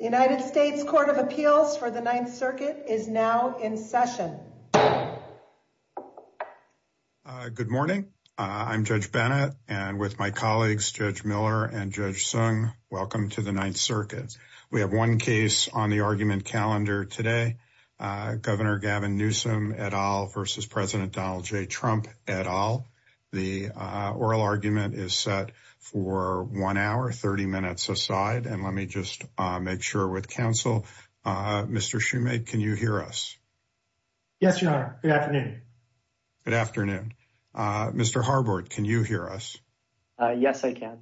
United States Court of Appeals for the Ninth Circuit is now in session. Good morning I'm Judge Bennett and with my colleagues Judge Miller and Judge Sung welcome to the Ninth Circuit. We have one case on the argument calendar today Governor Gavin Newsom et al versus President Donald J Trump et al. The oral argument is set for one hour 30 minutes aside and let me just make sure with counsel. Mr. Shumate can you hear us? Yes your honor. Good afternoon. Good afternoon. Mr. Harbord can you hear us? Yes I can.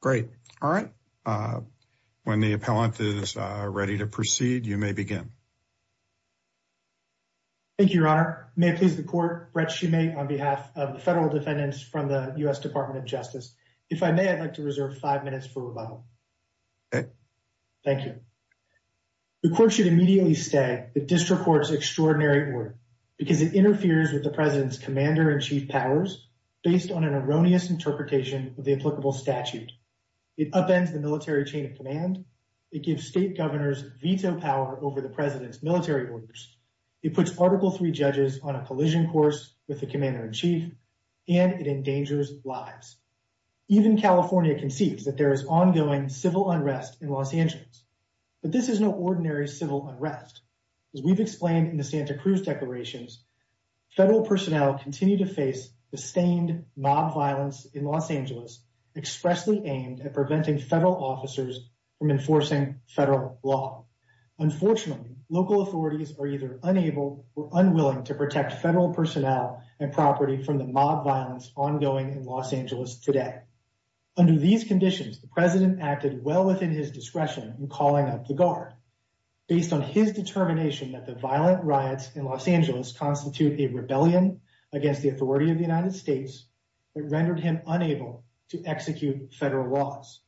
Great all right when the appellant is ready to proceed you may begin. Thank you your honor. May it please the court Brett Shumate on behalf of the federal defendants from the U.S. Department of Justice if I may I'd like to reserve five minutes for rebuttal. Okay. Thank you. The court should immediately say the district courts extraordinary order because it interferes with the president's commander-in-chief powers based on an erroneous interpretation of the applicable statute. It upends the military chain of command. It gives state governors veto power over the president's military orders. It puts article 3 judges on a collision course with the commander-in-chief and it endangers lives. Even California concedes that there is ongoing civil unrest in Los Angeles but this is no ordinary civil unrest. As we've explained in the Santa Cruz declarations federal personnel continue to face the stained mob violence in Los Angeles expressly aimed at preventing federal officers from enforcing federal law. Unfortunately local authorities are either unable or unwilling to protect federal personnel and property from the mob violence ongoing in Los Angeles today. Under these conditions the president acted well within his discretion in calling up the guard. Based on his determination that the violent riots in Los Angeles constitute a rebellion against the authority of the United States it rendered him unable to execute federal laws.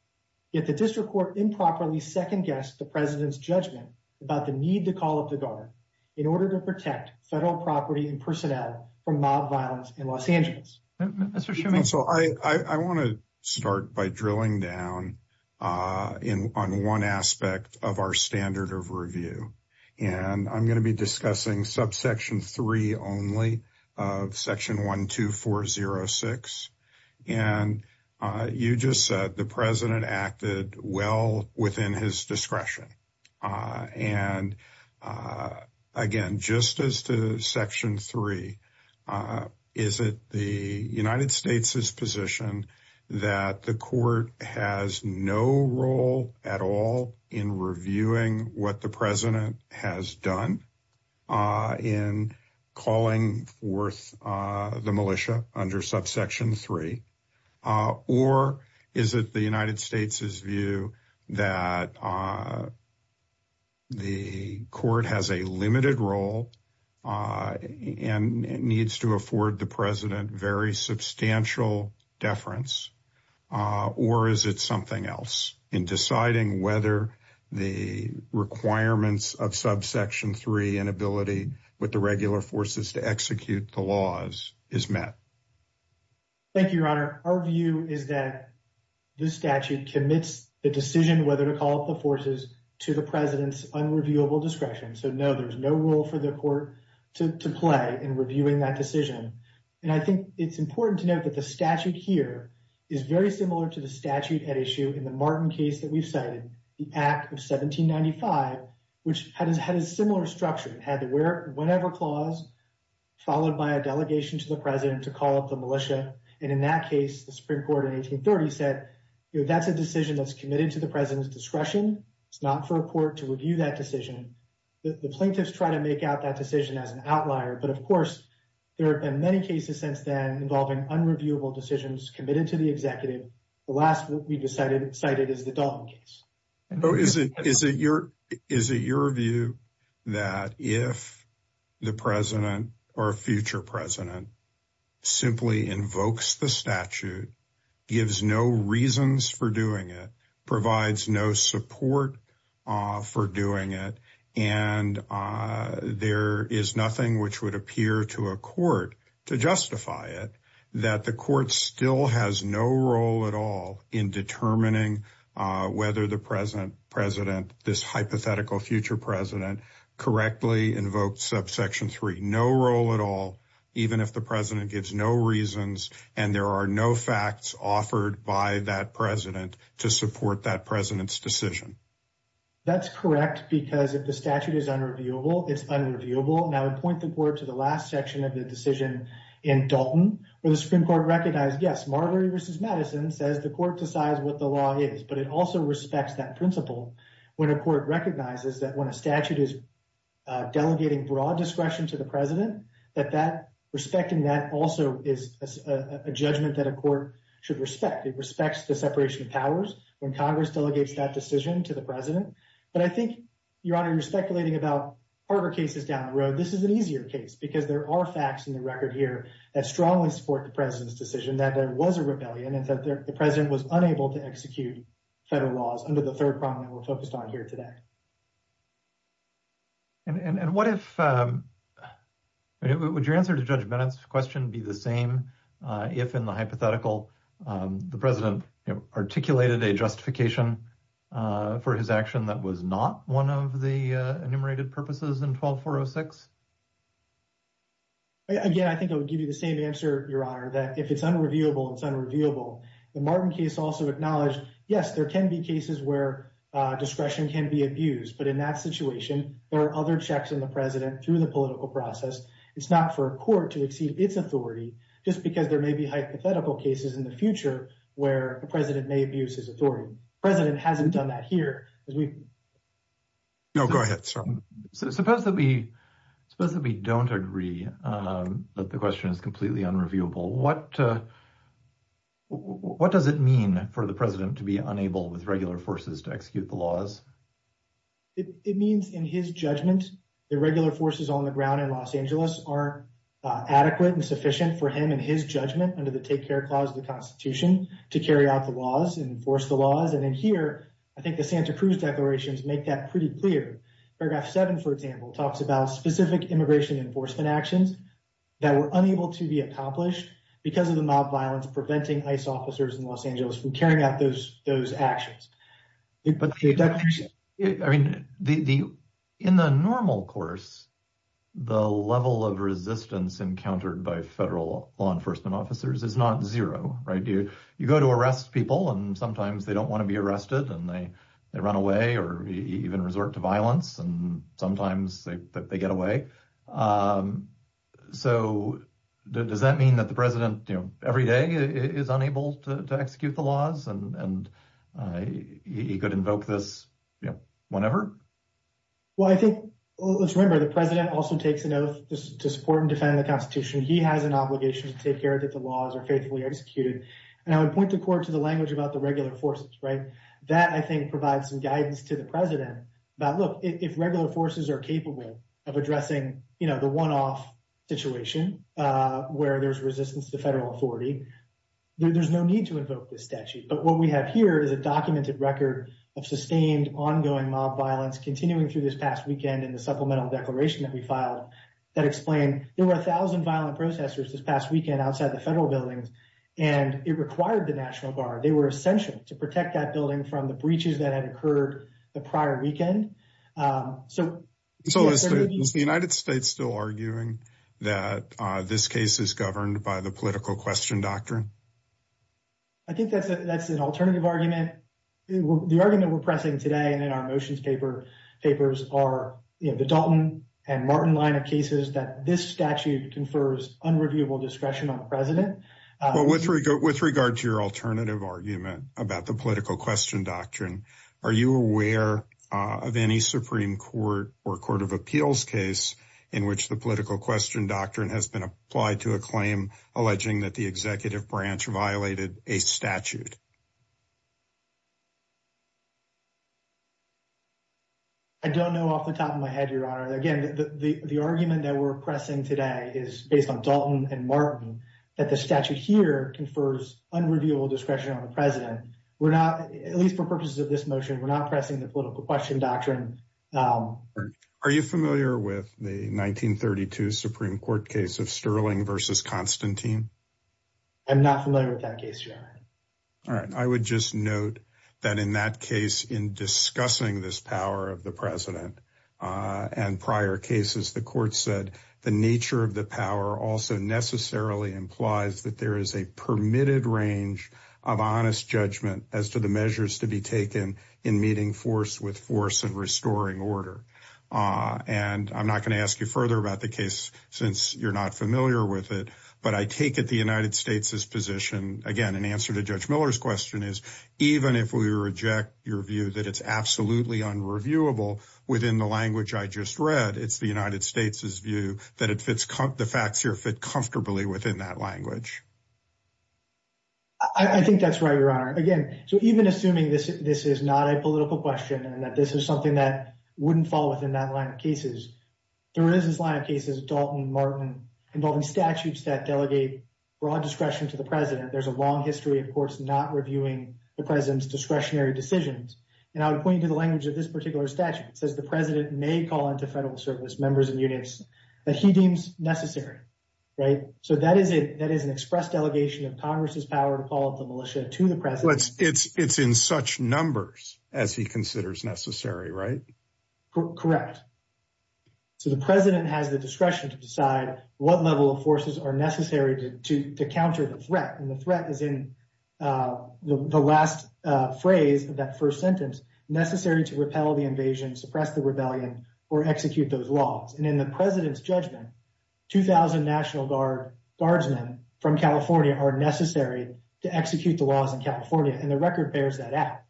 Yet the district court improperly second-guessed the president's judgment about the need to call up the guard in order to protect federal property and personnel from mob violence in Los Angeles. So I want to start by drilling down in on one aspect of our standard of review and I'm going to be discussing subsection 3 only of section 1 2 4 0 6 and you just said the president acted well within his discretion and again just as to section 3 is it the United States's position that the court has no role at all in reviewing what the president has done in calling forth the militia under subsection 3 or is it the United States's view that the court has a limited role and it needs to afford the president very substantial deference or is it something else in deciding whether the requirements of subsection 3 and ability with the regular forces to execute the laws is met. Thank you your honor our view is that this statute commits the decision whether to call up the forces to the president's unreviewable discretion so no there's no role for the court to play in reviewing that decision and I think it's important to note that the statute here is very similar to the statute at issue in the Martin case that we've cited the act of 1795 which has had a similar structure and had the where whenever clause followed by a delegation to the president to call up the militia and in that case the Supreme Court in 1830 said that's a decision that's committed to the president's discretion it's not for a court to review that decision the plaintiffs try to make out that decision as an outlier but of course there have been many cases since then involving unreviewable decisions committed to the executive the last we decided cited is the Dalton case. Is it your view that if the president or a future president simply invokes the statute gives no reasons for doing it provides no support for doing it and there is nothing which would appear to a court to justify it that the court still has no role at all in determining whether the present president this hypothetical future president correctly invoked subsection 3 no role at all even if the president gives no reasons and there are no facts offered by that president to support that president's decision? That's correct because if the statute is unreviewable it's unreviewable and I would point the board to the last section of the decision in Dalton where the Supreme Court recognized yes Marbury vs. Madison says the court decides what the law is but it also respects that principle when a court recognizes that when a statute is delegating broad discretion to the president that that respecting that also is a judgment that a court should respect it respects the separation of powers when Congress delegates that decision to the president but I think your honor you're speculating about harder cases down the road this is an easier case because there are facts in the record here that strongly support the president's decision that there was a rebellion and that the president was unable to execute federal laws under the third problem we're focused on here today. And what if would your answer to Judge Bennett's question be the same if in the hypothetical the president articulated a justification for his action that was not one of the enumerated purposes in 12406? Again I think it would give you the same answer your honor that if it's unreviewable it's unreviewable. The Martin case also acknowledged yes there can be cases where discretion can be abused but in that situation there are other checks in the president through the political process it's not for a court to exceed its authority just because there may be hypothetical cases in the future where the president may abuse his authority. The president hasn't done that here. No go ahead sir. So suppose that we suppose that we don't agree that the question is completely unreviewable what what does it mean for the president to be unable with regular forces to execute the laws? It means in his judgment the regular forces on the ground in Los Angeles are adequate and sufficient for him in his judgment under the Take Care Clause of the Constitution to carry out the laws and enforce the laws and in here I think the Santa Cruz declarations make that pretty clear. Paragraph 7 for example talks about specific immigration enforcement actions that were unable to be accomplished because of the mob violence preventing ICE officers in Los Angeles from carrying out those those actions. But I mean the in the normal course the level of resistance encountered by federal law enforcement officers is not zero right you you go to arrest people and sometimes they don't want to be arrested and they they run away or even resort to violence and sometimes they get away. So does that mean that the president you know every day is unable to execute the laws and he could invoke this you know whenever? Well I think let's remember the president also takes an oath to support and defend the Constitution. He has an obligation to take care that the laws are faithfully executed and I would point the court to the language about the regular forces right that I think provides some guidance to the president about look if regular forces are capable of addressing you know the one-off situation where there's resistance to federal authority there's no need to invoke this statute. But what we have here is a documented record of sustained ongoing mob violence continuing through this past weekend in the supplemental declaration that we filed that explained there were a thousand violent protesters this past weekend outside the federal buildings and it required the National Guard. They were essential to protect that building from the breaches that had occurred the prior weekend. So is the United States still arguing that this case is governed by the political question doctrine? I think that's an alternative argument. The argument we're pressing today and in our motions paper papers are you know the Dalton and Martin line of cases that this statute confers unreviewable discretion on the president. With regard to your alternative argument about the political question doctrine are you aware of any Supreme Court or Court of Appeals case in which the political question doctrine has been applied to a claim alleging that the executive branch violated a statute? I don't know off the top of my head Your Honor. Again the argument that we're pressing today is based on Dalton and Martin that the statute here confers unreviewable discretion on the president. We're not, at least for purposes of this motion, we're not pressing the political question doctrine. Are you familiar with the 1932 Supreme Court case of Sterling versus Constantine? I'm not familiar with that case Your Honor. All right I would just note that in that case in discussing this power of the president and prior cases the court said the nature of the power also necessarily implies that there is a permitted range of honest judgment as to the measures to be taken in meeting force with force and restoring order. And I'm not going to ask you further about the case since you're not familiar with it but I take it the United States's position again an answer to Judge Miller's question is even if we reject your view that it's absolutely unreviewable within the language I just read it's the United States's view that the facts here fit comfortably within that language. I think that's right Your Honor. Again so even assuming this this is not a political question and that this is something that wouldn't fall within that line of cases, there is this line of cases of Dalton and Martin involving statutes that delegate broad discretion to the president. There's a long history of courts not reviewing the president's discretionary decisions and I would point you to the language of this particular statute says the president may call into federal service members and units that he deems necessary right so that is it that is an express delegation of Congress's power to call up the militia to the president. It's in such numbers as he considers necessary right? Correct. So the president has the discretion to decide what level of forces are necessary to counter the threat and the threat is in the last phrase of that first sentence necessary to repel the invasion suppress the rebellion or execute those laws and in the president's judgment 2,000 National Guard Guardsmen from California are necessary to execute the laws in California and the record bears that out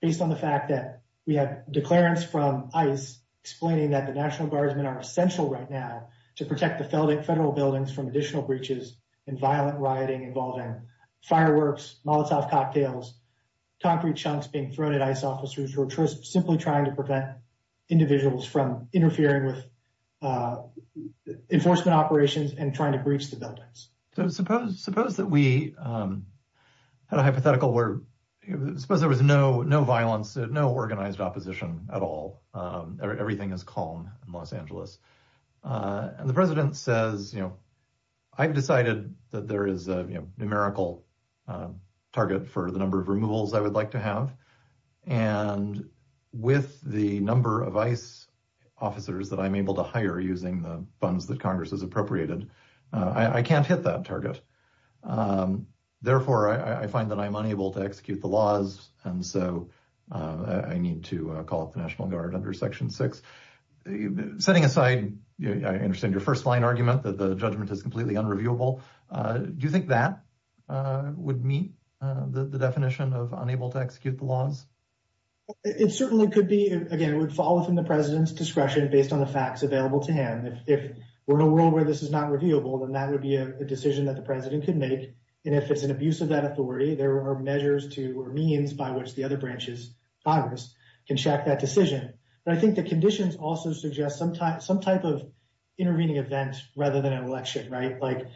based on the fact that we have declarants from ICE explaining that the National Guardsmen are essential right now to protect the federal buildings from additional breaches and violent rioting involving fireworks Molotov cocktails concrete chunks being thrown at ICE officers or just simply trying to prevent individuals from interfering with enforcement operations and trying to breach the buildings. So suppose suppose that we had a hypothetical where suppose there was no no violence no organized opposition at all everything is calm in Los Angeles and the president says you know I've decided that there is a numerical target for the number of removals I would like to have and with the number of ICE officers that I'm able to hire using the funds that Congress has appropriated I can't hit that target therefore I find that I'm unable to execute the laws and so I need to call up the National Guard under section 6. Setting aside I understand your first line argument that the judgment is completely unreviewable do you think that would meet the definition of unable to execute the laws? It certainly could be again it would follow from the president's discretion based on the facts available to him if we're in a world where this is not reviewable then that would be a decision that the president could make and if it's an abuse of that authority there are measures to or means by which the other branches Congress can check that decision but I think the conditions also suggest sometimes some type of intervening event rather than an election right like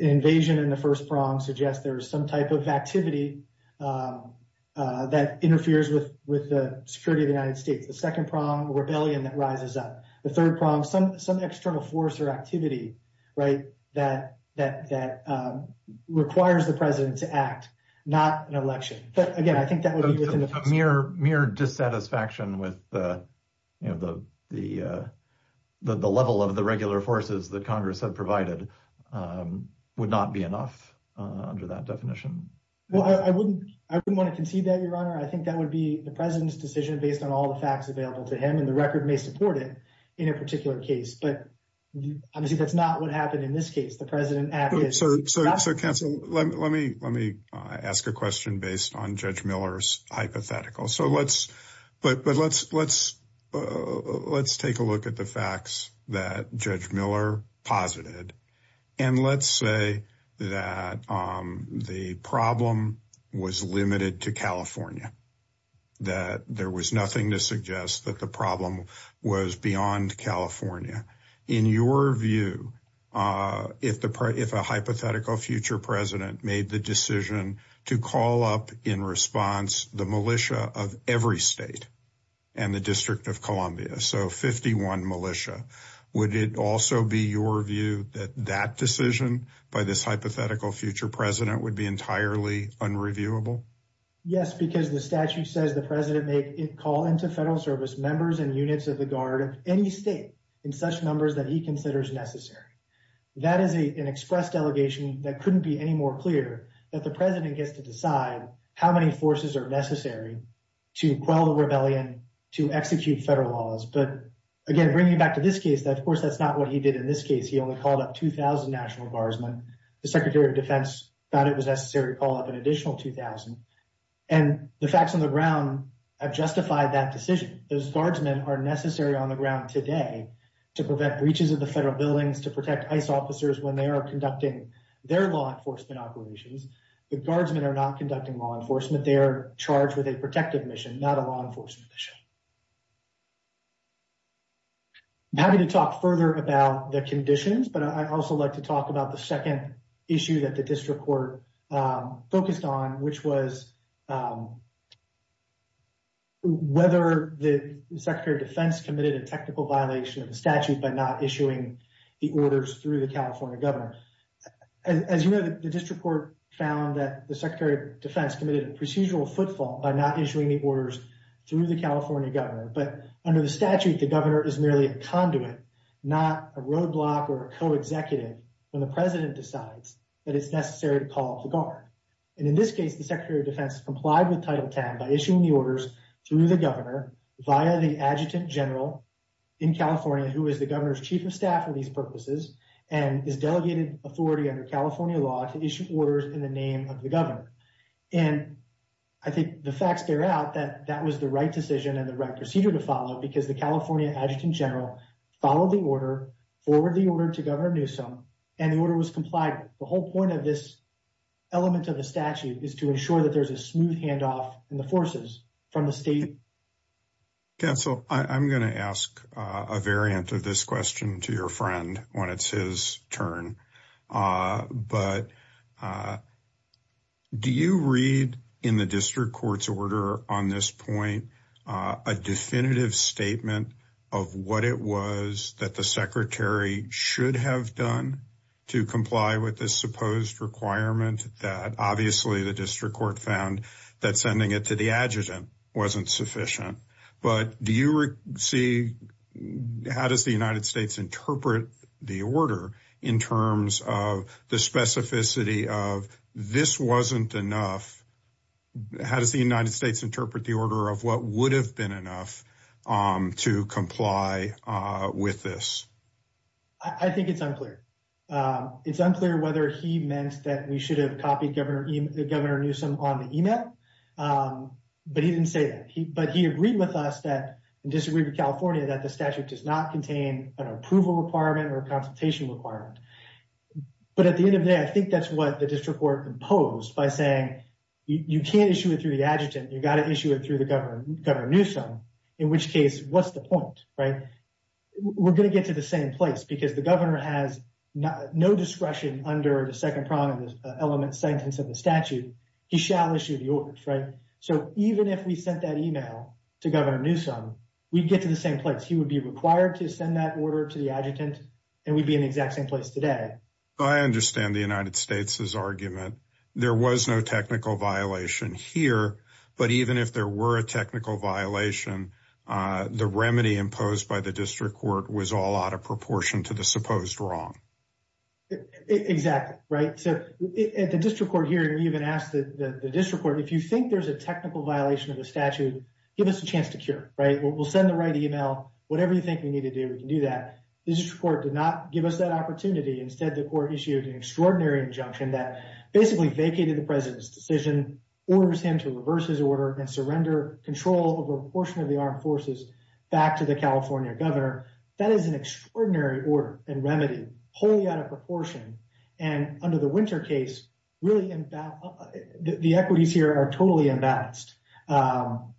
invasion in the first prong suggests there's some type of activity that interferes with with the security of the United States the second prong rebellion that rises up the third prong some some external force or activity right that that requires the president to act not an election but mere mere dissatisfaction with the you know the the the level of the regular forces that Congress had provided would not be enough under that definition I wouldn't I wouldn't want to concede that your honor I think that would be the president's decision based on all the facts available to him and the record may support it in a particular case but obviously that's not what happened in this case the president so so so counsel let me let me ask a question based on judge Miller's hypothetical so let's but but let's let's let's take a look at the facts that judge Miller posited and let's say that the problem was limited to California that there was nothing to suggest that the problem was beyond California in your view if the part if a hypothetical future president made the decision to call up in response the militia of every state and the District of Columbia so 51 militia would it also be your view that that decision by this hypothetical future president would be entirely unreviewable yes because the statute says the president may call into federal service members and units of the guard of any state in such numbers that he considers necessary that is a an delegation that couldn't be any more clear that the president gets to decide how many forces are necessary to quell the rebellion to execute federal laws but again bringing back to this case that of course that's not what he did in this case he only called up 2,000 national guardsmen the Secretary of Defense thought it was necessary to call up an additional 2,000 and the facts on the ground have justified that decision those guardsmen are necessary on the ground today to prevent breaches of the federal buildings to protect ice officers when they are conducting their law enforcement operations the guardsmen are not conducting law enforcement they are charged with a protective mission not a law enforcement issue I'm happy to talk further about the conditions but I also like to talk about the second issue that the district court focused on which was whether the Secretary of Defense committed a technical violation of the California governor as you know that the district court found that the Secretary of Defense committed a procedural footfall by not issuing the orders through the California governor but under the statute the governor is merely a conduit not a roadblock or a co-executive when the president decides that it's necessary to call up the guard and in this case the Secretary of Defense complied with title 10 by issuing the orders through the governor via the adjutant general in California who is the governor's chief of staff for these purposes and is delegated authority under California law to issue orders in the name of the governor and I think the facts bear out that that was the right decision and the right procedure to follow because the California adjutant general followed the order forward the order to Governor Newsom and the order was complied the whole point of this element of the statute is to ensure that there's a smooth handoff in the forces from the state yeah so I'm gonna ask a variant of this question to your friend when it's his turn but do you read in the district courts order on this point a definitive statement of what it was that the secretary should have done to comply with this supposed requirement that obviously the district court found that sending it to the adjutant wasn't sufficient but do you see how does the United States interpret the order in terms of the specificity of this wasn't enough how does the United States interpret the order of what would have been enough to comply with this I think it's unclear it's unclear whether he meant that we should have copied Governor Newsom on the email but he didn't say that he but he agreed with us that disagree with California that the statute does not contain an approval requirement or a consultation requirement but at the end of the day I think that's what the district were imposed by saying you can't issue it through the adjutant you got to issue it through the Governor Newsom in which case what's the point right we're gonna get to the same place because the has no discretion under the second element sentence of the statute he shall issue the order right so even if we sent that email to Governor Newsom we'd get to the same place he would be required to send that order to the adjutant and we'd be in the exact same place today I understand the United States's argument there was no technical violation here but even if there were a technical violation the remedy imposed by the district court was all out of supposed wrong exactly right so at the district court hearing even asked that the district court if you think there's a technical violation of the statute give us a chance to cure right we'll send the right email whatever you think we need to do we can do that this report did not give us that opportunity instead the court issued an extraordinary injunction that basically vacated the president's decision orders him to reverse his order and surrender control over a portion of the armed forces back to the California governor that is an extraordinary order and remedy wholly out of proportion and under the winter case really about the equities here are totally imbalanced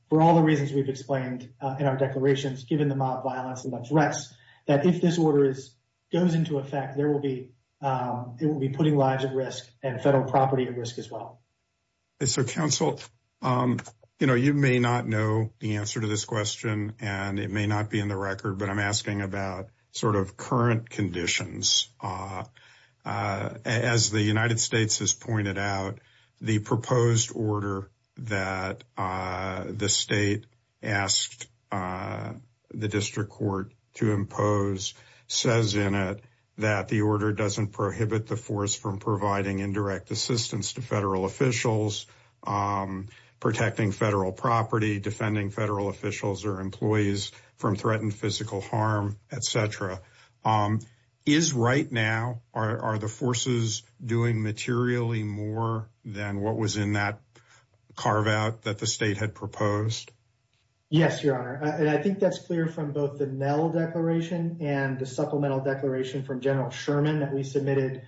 for all the reasons we've explained in our declarations given the mob violence and the threats that if this order is goes into effect there will be it will be putting lives at risk and federal property at risk as well so counsel you know you may not know the answer to this question and it may not be in the record but I'm asking about sort of current conditions as the United States has pointed out the proposed order that the state asked the district court to impose says in it that the order doesn't prohibit the force from providing indirect assistance to federal officials protecting federal property defending federal officials or from threatened physical harm etc is right now are the forces doing materially more than what was in that carve out that the state had proposed yes your honor and I think that's clear from both the Nell declaration and the supplemental declaration from General Sherman that we submitted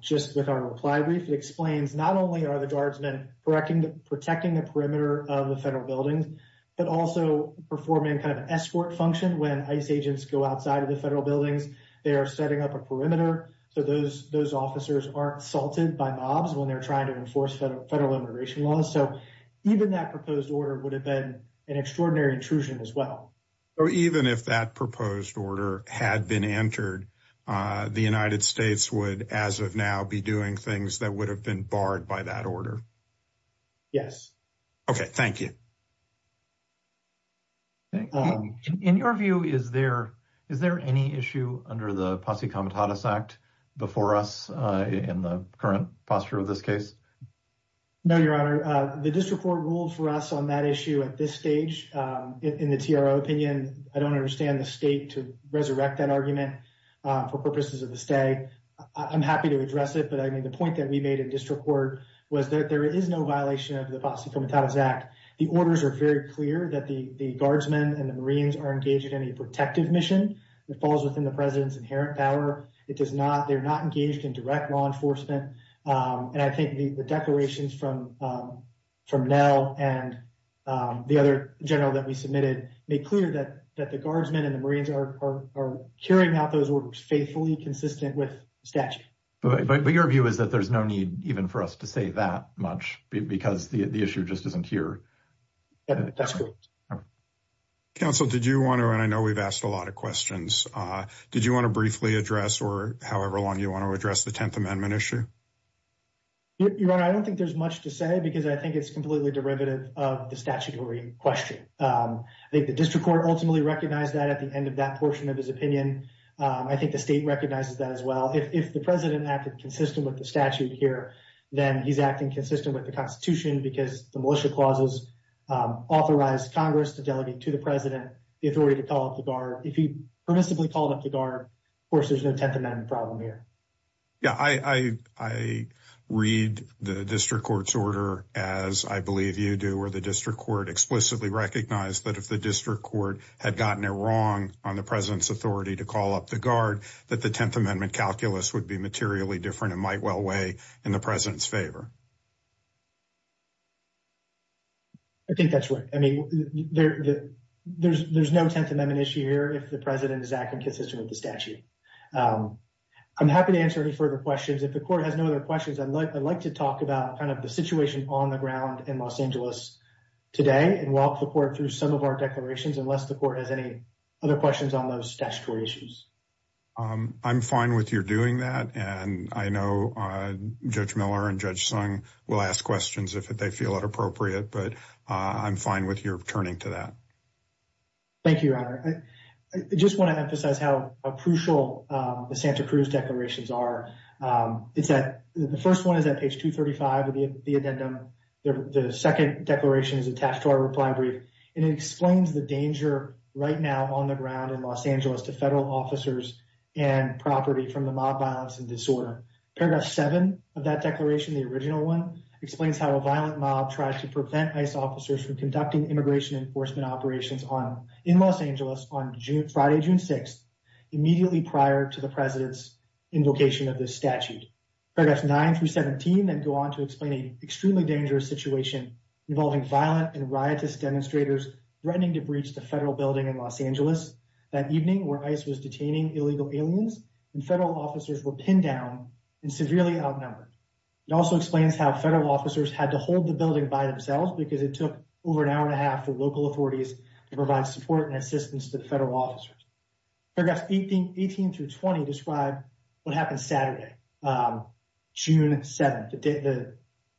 just with our reply brief it explains not only are the guardsmen correcting the protecting the but also performing kind of escort function when ICE agents go outside of the federal buildings they are setting up a perimeter so those those officers aren't salted by mobs when they're trying to enforce federal immigration laws so even that proposed order would have been an extraordinary intrusion as well or even if that proposed order had been entered the United States would as of now be doing things that would have been barred by that order yes okay thank you in your view is there is there any issue under the posse commentatus act before us in the current posture of this case no your honor the district court ruled for us on that issue at this stage in the TRO opinion I don't understand the state to resurrect that argument for purposes of the state I'm happy to address it but I mean the point that we made in district court was that there is no violation of the posse commentatus act the orders are very clear that the guardsmen and the Marines are engaged in a protective mission that falls within the president's inherent power it does not they're not engaged in direct law enforcement and I think the declarations from from Nell and the other general that we submitted make clear that that the guardsmen and the Marines are carrying out those orders faithfully consistent with statute but your view is that there's no need even for us to say that much because the issue just isn't here that's great council did you want to and I know we've asked a lot of questions did you want to briefly address or however long you want to address the Tenth Amendment issue your honor I don't think there's much to say because I think it's completely derivative of the statutory question I think the district court ultimately recognized that at the end of that portion of his opinion I think the state recognizes that as well if the president acted consistent with the statute here then he's acting consistent with the Constitution because the militia clauses authorized Congress to delegate to the president the authority to call up the guard if he permissibly called up the guard of course there's no Tenth Amendment problem here yeah I I read the district courts order as I believe you do or the district court explicitly recognized that if the district court had gotten it wrong on the president's authority to call up the guard that the Tenth Amendment calculus would be materially different it might well weigh in the president's favor I think that's what I mean there's there's no Tenth Amendment issue here if the president is acting consistent with the statute I'm happy to answer any further questions if the court has no other questions I'd like I'd like to talk about kind of the situation on the ground in Los Angeles today and walk the court through some of our declarations unless the court has any other questions on those statutory issues I'm fine with your doing that and I know Judge Miller and Judge Sung will ask questions if they feel it appropriate but I'm fine with your turning to that thank you I just want to emphasize how crucial the Santa Cruz declarations are it's that the first one is that page 235 of the addendum the second declaration is attached to our reply brief and it explains the danger right now on the ground in Los Angeles to federal officers and property from the mob violence and disorder paragraph 7 of that declaration the original one explains how a violent mob tries to prevent ICE officers from conducting immigration enforcement operations on in Los Angeles on Friday June 6th immediately prior to the president's invocation of this statute paragraphs 9 through 17 then go on to explain a extremely dangerous situation involving violent and riotous demonstrators threatening to breach the federal building in Los Angeles that evening where ICE was detaining illegal aliens and federal officers were pinned down and severely outnumbered it also explains how federal officers had to hold the building by themselves because it took over an hour and a half for local authorities to provide support and assistance to the federal officers. Paragraphs 18 through 20 describe what happened Saturday June 7th the day the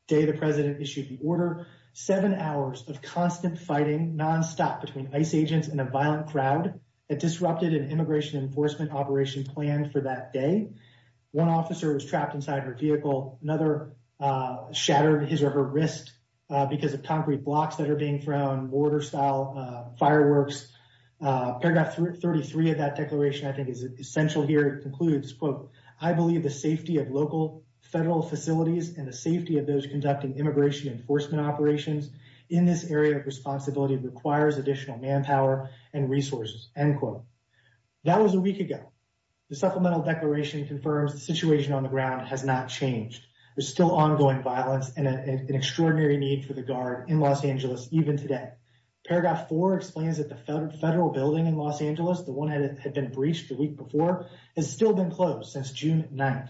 day the president issued the order seven hours of constant fighting non-stop between ICE agents and a violent crowd it disrupted an immigration enforcement operation planned for that day one officer was trapped inside her vehicle another shattered his or her wrist because of concrete blocks that are being thrown mortar style fireworks paragraph 33 of that declaration I think is essential here it concludes quote I believe the safety of local federal facilities and the safety of those conducting immigration enforcement operations in this area of responsibility requires additional manpower and resources end quote. That was a week ago the supplemental declaration confirms the situation on the ground has not changed there's still ongoing violence and an extraordinary need for the guard in Los Angeles even today. Paragraph 4 explains that the federal building in Los Angeles the one that had been breached the week before has still been closed since June 9th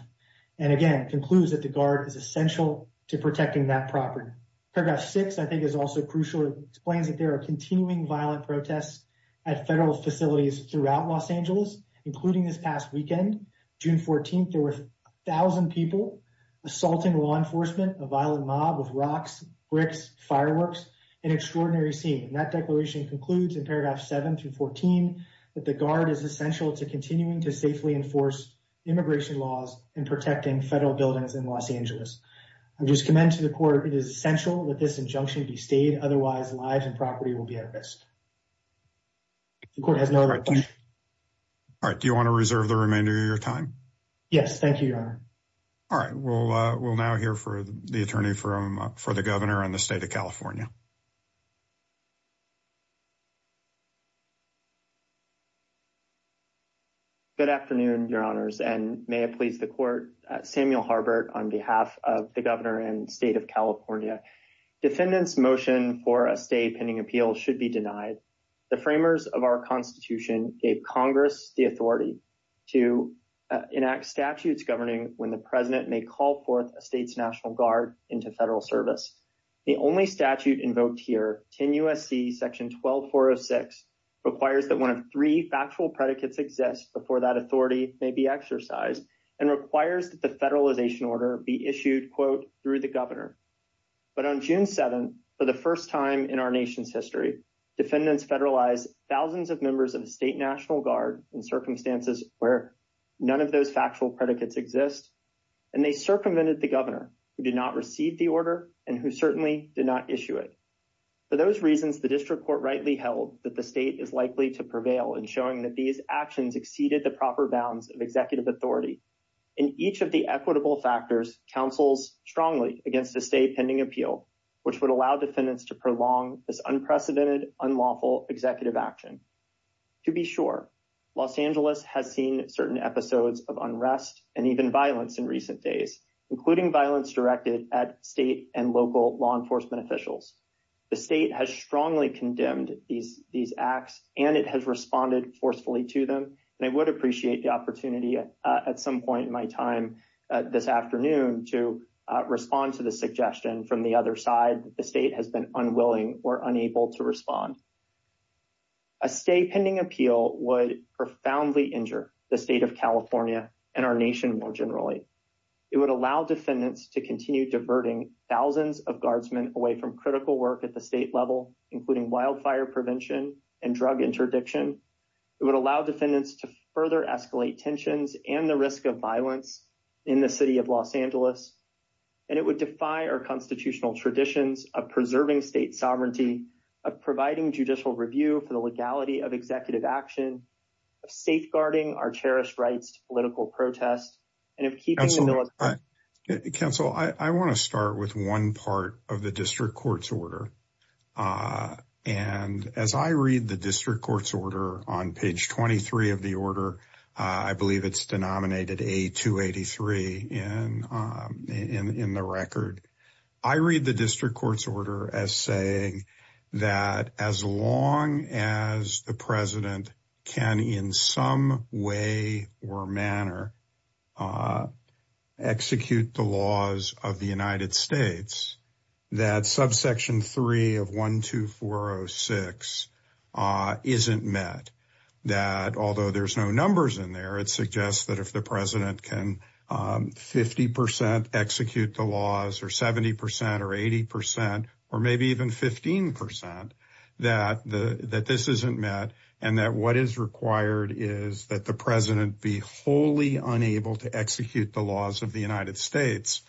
and again concludes that the guard is essential to protecting that property. Paragraph 6 I think is also crucial explains that there are continuing violent protests at federal facilities throughout Los Angeles including this past weekend June 14th there were a thousand people assaulting law enforcement a violent mob with rocks bricks fireworks an extraordinary scene that declaration concludes in paragraph 7 through 14 that the guard is essential to continuing to safely enforce immigration laws and protecting federal buildings in Los Angeles. I just commend to the court it is essential that this injunction be stayed otherwise lives and property will be at risk the court has all right do you want to reserve the remainder of your time yes thank you your honor all right we'll we'll now hear for the attorney for him for the governor and the state of California good afternoon your honors and may it please the court Samuel Harbert on behalf of the governor and state of California defendants motion for a stay pending appeal should be denied the framers of our Constitution gave Congress the authority to enact statutes governing when the president may call forth a state's National Guard into federal service the only statute invoked here 10 USC section 12406 requires that one of three factual predicates exist before that authority may be exercised and requires that the federalization order be issued quote through the governor but on June 7th for the first time in our nation's history defendants federalized thousands of members of the state National Guard in circumstances where none of those factual predicates exist and they circumvented the governor who did not receive the order and who certainly did not issue it for those reasons the district court rightly held that the state is likely to prevail in showing that these actions exceeded the proper bounds of executive authority in each of the equitable factors counsels strongly against a state pending appeal which would allow defendants to prolong this unprecedented unlawful executive action to be sure Los Angeles has seen certain episodes of unrest and even violence in recent days including violence directed at state and local law enforcement officials the state has strongly condemned these these acts and it has responded forcefully to them and I would appreciate the opportunity at some point in my time this afternoon to respond to the suggestion from the other side the state has been unwilling or unable to respond a state pending appeal would profoundly injure the state of California and our nation more generally it would allow defendants to continue diverting thousands of guardsmen away from critical work at the state level including wildfire prevention and drug interdiction it would allow defendants to further escalate tensions and the risk of in the city of Los Angeles and it would defy our constitutional traditions of preserving state sovereignty of providing judicial review for the legality of executive action of safeguarding our cherished rights political protest and if keeping us all right counsel I want to start with one part of the district courts order and as I read the district courts order on page 23 of the order I believe it's denominated a 283 in in the record I read the district courts order as saying that as long as the president can in some way or manner execute the laws of the United States that subsection 3 of 12406 isn't met that although there's no numbers in there it suggests that if the president can 50% execute the laws or 70% or 80% or maybe even 15% that the that this isn't met and that what is required is that the president be wholly unable to execute the laws of the United States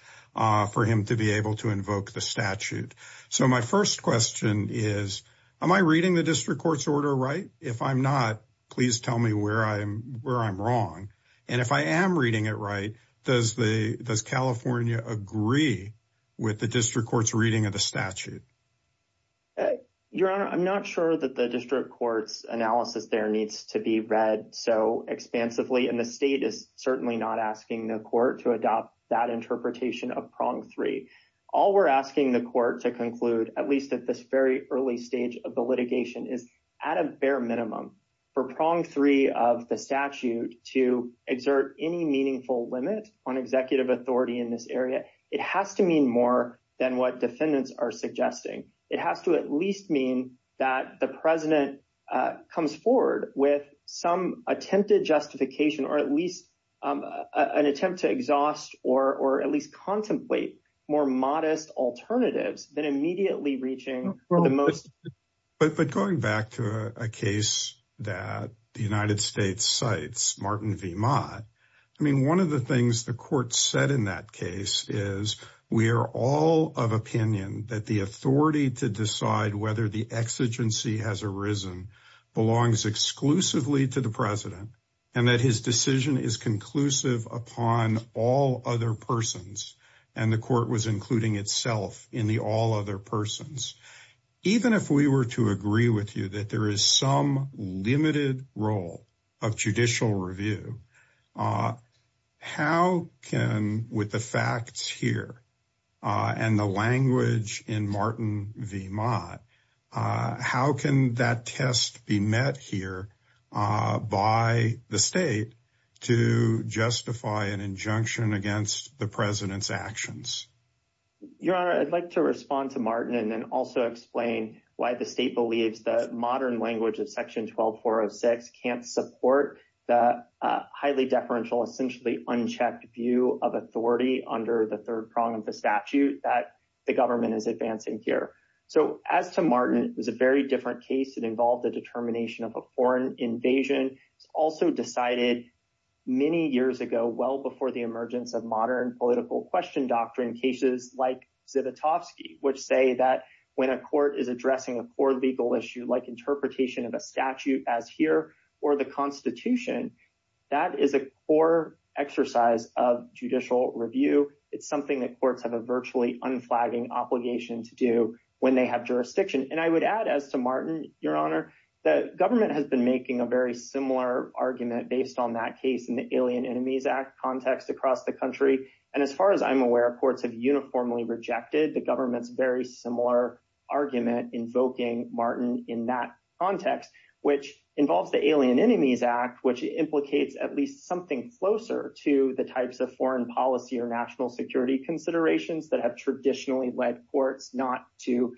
for him to be able to invoke the statute so my first question is am I reading the district courts order right if I'm not please tell me where I am where I'm wrong and if I am reading it right does the does California agree with the district courts reading of the statute your honor I'm not sure that the district courts analysis there needs to be read so expansively and the state is certainly not asking the court to adopt that interpretation of prong three all we're asking the court to conclude at least at this very early stage of the litigation is at a bare minimum for prong three of the statute to exert any meaningful limit on executive authority in this area it has to mean more than what defendants are suggesting it has to at least mean that the president comes forward with some attempted justification or at least an attempt to exhaust or or at least contemplate more modest alternatives than immediately reaching for the most but but going back to a case that the United States cites Martin V Ma I mean one of the things the court said in that case is we are all of opinion that the authority to decide whether the exigency has arisen belongs exclusively to the president and that his decision is conclusive upon all other persons and the court was including itself in the all other persons even if we were to agree with you that there is some limited role of judicial review how can with the facts here and the language in Martin V Ma how can that test be met here by the state to justify an injunction against the president's actions your honor I'd like to respond to Martin and then also explain why the state believes the modern language of section 12406 can't support the highly deferential essentially unchecked view of authority under the third prong of the statute that the government is advancing here so as to Martin it was a very different case that involved the determination of a foreign invasion it's also decided many years ago well before the emergence of modern political question doctrine cases like Zivotofsky which say that when a court is addressing a core legal issue like interpretation of a statute as here or the Constitution that is a core exercise of judicial review it's something that courts have a virtually unflagging obligation to do when they have jurisdiction and I would add as to Martin your honor the government has been making a very similar argument based on that case in the Alien Enemies Act context across the country and as far as I'm aware courts have uniformly rejected the government's very similar argument invoking Martin in that context which involves the Alien Enemies Act which implicates at least something closer to the types of foreign policy or national security considerations that have traditionally led courts not to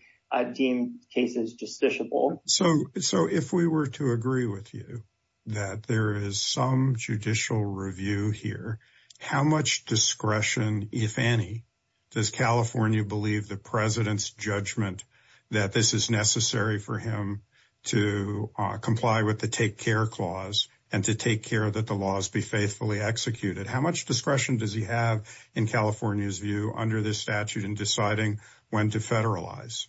deem cases justiciable so so if we were to agree with you that there is some judicial review here how much discretion if any does California believe the president's judgment that this is necessary for him to comply with the care clause and to take care that the laws be faithfully executed how much discretion does he have in California's view under this statute and deciding when to federalize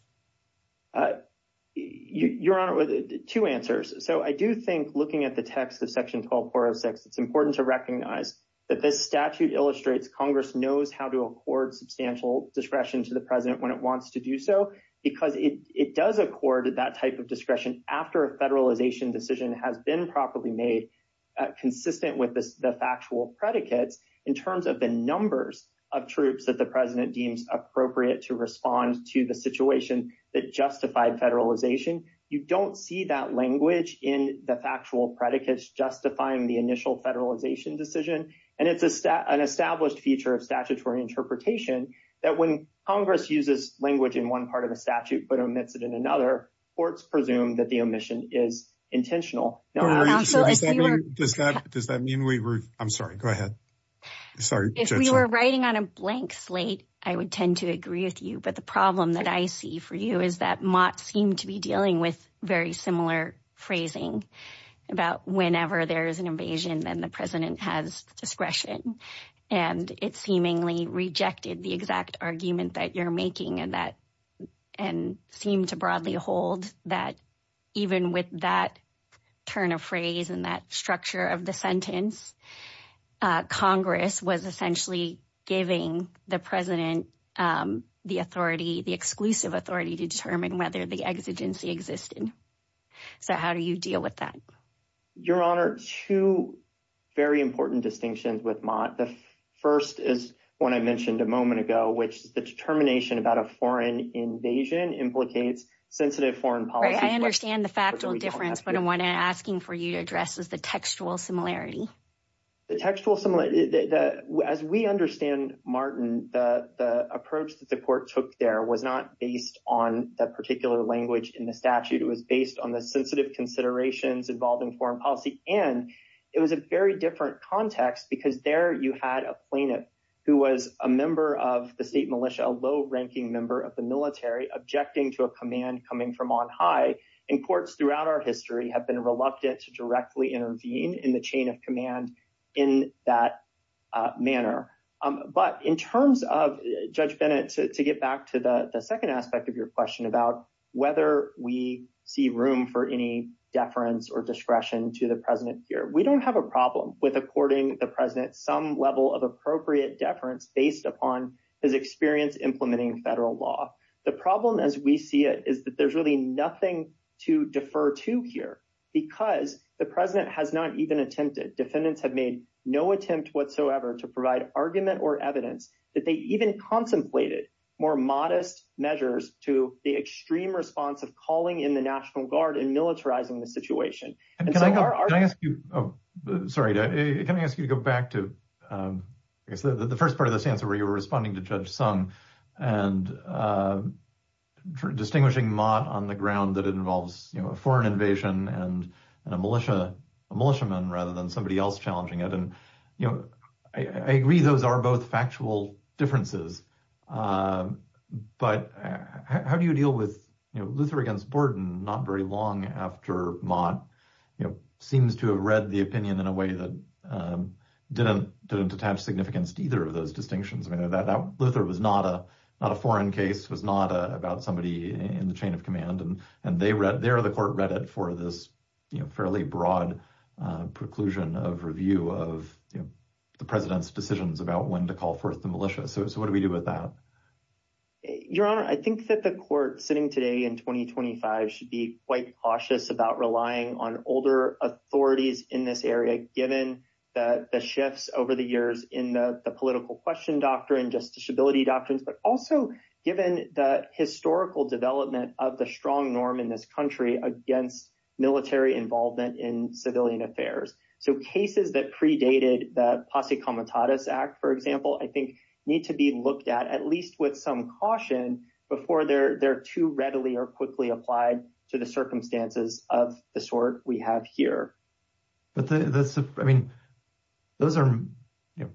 your honor with two answers so I do think looking at the text of section 12406 it's important to recognize that this statute illustrates congress knows how to accord substantial discretion to the president when it wants to do so because it it does accord that type of discretion after a properly made consistent with the factual predicates in terms of the numbers of troops that the president deems appropriate to respond to the situation that justified federalization you don't see that language in the factual predicates justifying the initial federalization decision and it's an established feature of statutory interpretation that when congress uses language in one part of the statute but omits it in another courts presume that the omission is intentional does that does that mean we were I'm sorry go ahead sorry we were writing on a blank slate I would tend to agree with you but the problem that I see for you is that Mott seemed to be dealing with very similar phrasing about whenever there is an invasion then the president has discretion and it seemingly rejected the exact argument that you're making and and seemed to broadly hold that even with that turn of phrase and that structure of the sentence congress was essentially giving the president the authority the exclusive authority to determine whether the exigency existed so how do you deal with that your honor two very important distinctions with Mott the first is one I mentioned a moment ago which is the determination about a foreign invasion implicates sensitive foreign policy I understand the factual difference but I want to asking for you to address is the textual similarity the textual similar that as we understand Martin the the approach that the court took there was not based on that particular language in the statute it was based on the sensitive considerations involving foreign policy and it was a very different context because there you had a plaintiff who was a member of the state militia a low-ranking member of the military objecting to a command coming from on high and courts throughout our history have been reluctant to directly intervene in the chain of command in that manner but in terms of Judge Bennett to get back to the second aspect of your question about whether we see room for any deference or discretion to the president here we don't have a problem with according the president some level of appropriate deference based upon his experience implementing federal law the problem as we see it is that there's really nothing to defer to here because the president has not even attempted defendants have made no attempt whatsoever to provide argument or evidence that they even contemplated more modest measures to the extreme response of calling in the National Guard and militarizing the situation and so I ask you oh sorry can I ask you to go back to I guess the first part of this answer where you were responding to Judge Sung and distinguishing Mott on the ground that it involves you know a foreign invasion and a militia a militiaman rather than somebody else challenging it and you know I agree those are both factual differences but how do you deal with you know Luther against Borden not very long after Mott you know seems to have read the opinion in a way that didn't attach significance to either of those distinctions I mean that Luther was not a not a foreign case was not about somebody in the chain of command and and they read there the court read it for this you know fairly broad preclusion of review of you know the president's decisions about when to call forth the militia so what do we do with that your honor I think that the court sitting today in 2025 should be quite cautious about relying on older authorities in this area given that the shifts over the years in the political question doctrine just disability doctrines but also given the historical development of the strong norm in this country against military involvement in civilian affairs so cases that predated the Posse Comitatus Act for example I think need to be looked at at least with caution before they're they're too readily or quickly applied to the circumstances of the sort we have here but that's I mean those are you know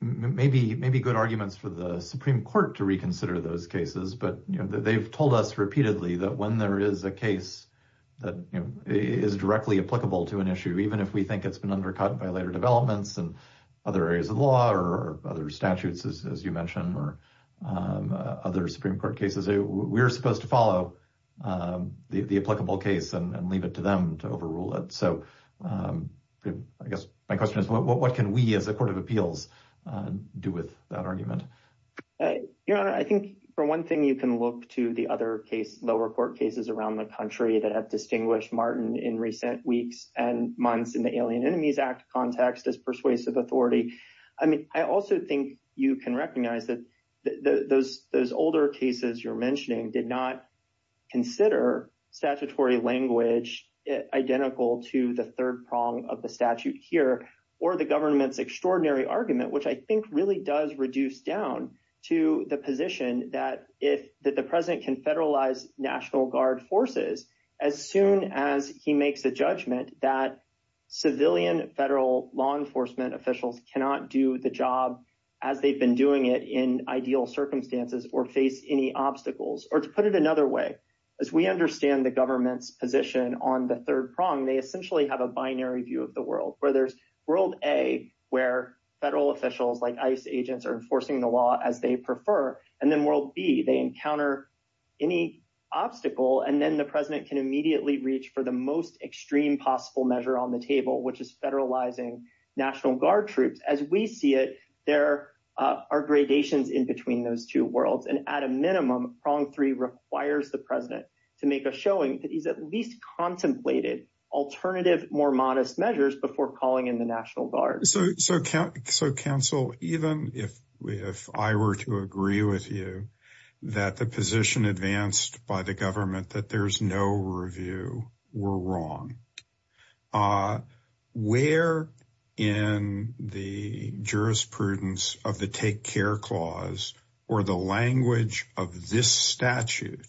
maybe maybe good arguments for the Supreme Court to reconsider those cases but you know they've told us repeatedly that when there is a case that you know is directly applicable to an issue even if we think it's been undercut by later developments and other areas of law or other statutes as you mentioned or other Supreme Court cases we're supposed to follow the applicable case and leave it to them to overrule it so I guess my question is what can we as a court of appeals do with that argument your honor I think for one thing you can look to the other case lower court cases around the country that have distinguished Martin in recent weeks and months in the Alien Enemies Act context as persuasive authority I mean I also think you can recognize that those those older cases you're mentioning did not consider statutory language identical to the third prong of the statute here or the government's extraordinary argument which I think really does reduce down to the position that if that the president can federalize National Guard forces as soon as he makes a judgment that civilian federal law enforcement officials cannot do the job as they've been doing it in ideal circumstances or face any obstacles or to put it another way as we understand the government's position on the third prong they essentially have a binary view of the world where there's world a where federal officials like ICE agents are enforcing the law as they prefer and then world b they encounter any obstacle and then the president can immediately reach for the most extreme possible measure on the table which is federalizing National Guard troops as we see it there are gradations in between those two worlds and at a minimum prong three requires the president to make a showing that he's at least contemplated alternative more modest measures before calling in the National Guard so so count so counsel even if if I were to agree with you that the position advanced by the government that there's no review we're wrong uh where in the jurisprudence of the take care clause or the language of this statute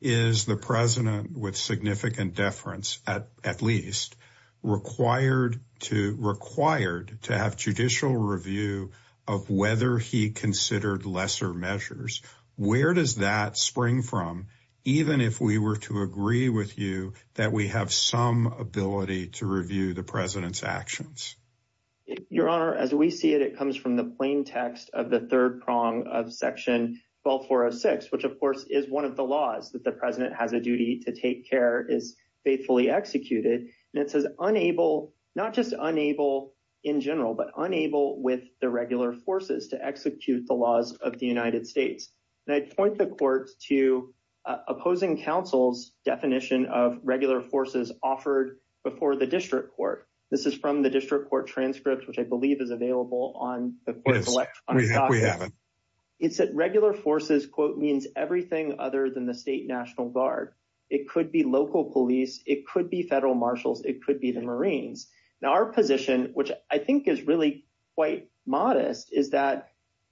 is the president with significant deference at at least required to required to have judicial review of whether he considered lesser measures where does that spring from even if we were to agree with you that we have some ability to review the president's actions your honor as we see it it comes from the plain text of the third prong of section 12406 which of course is one of the laws that the president has a duty to take care is faithfully executed and it says unable not just unable in general but unable with the regular forces to execute the laws of the United States and I'd point the court to opposing counsel's definition of regular forces offered before the district court this is from the district court transcript which I believe is available on the court we haven't it's that regular forces quote means everything other than the state national guard it could be local police it could be federal marshals it could be the marines now our position which I think is really quite modest is that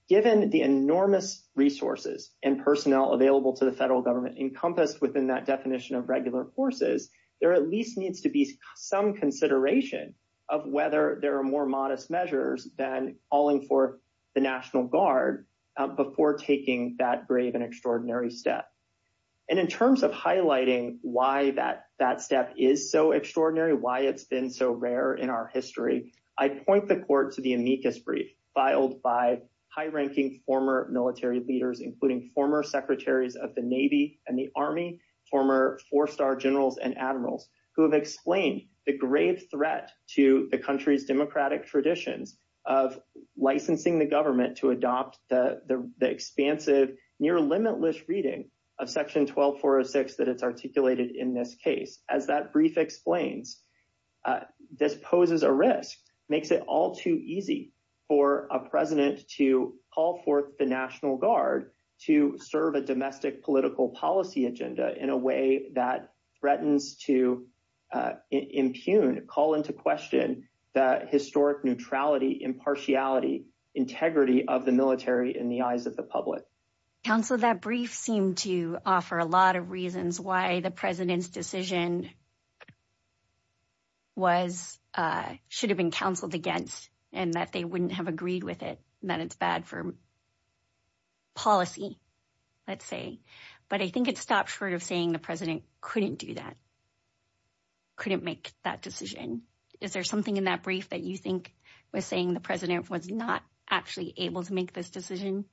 given the enormous resources and personnel available to the federal government encompassed within that definition of regular forces there at least needs to be some consideration of whether there are more modest measures than calling for the national guard before taking that grave and extraordinary step and in terms of highlighting why that that step is so extraordinary why it's been so rare in our history I point the court to the amicus brief filed by high-ranking former military leaders including former secretaries of the navy and the army former four-star generals and admirals who have explained the grave threat to the country's democratic traditions of licensing the government to adopt the the expansive near limitless reading of section 12406 that it's articulated in this case as that brief explains this poses a risk makes it all too easy for a president to call forth the national guard to serve a domestic political policy agenda in a way that threatens to impugn call into question the historic neutrality impartiality integrity of the military in the eyes of the public council that brief seemed to offer a lot of reasons why the president's decision was should have been counseled against and that they wouldn't have agreed with it that it's bad for policy let's say but I think it stops short of saying the president couldn't do that couldn't make that decision is there something in that brief that you think was saying the president was not actually able to make this decision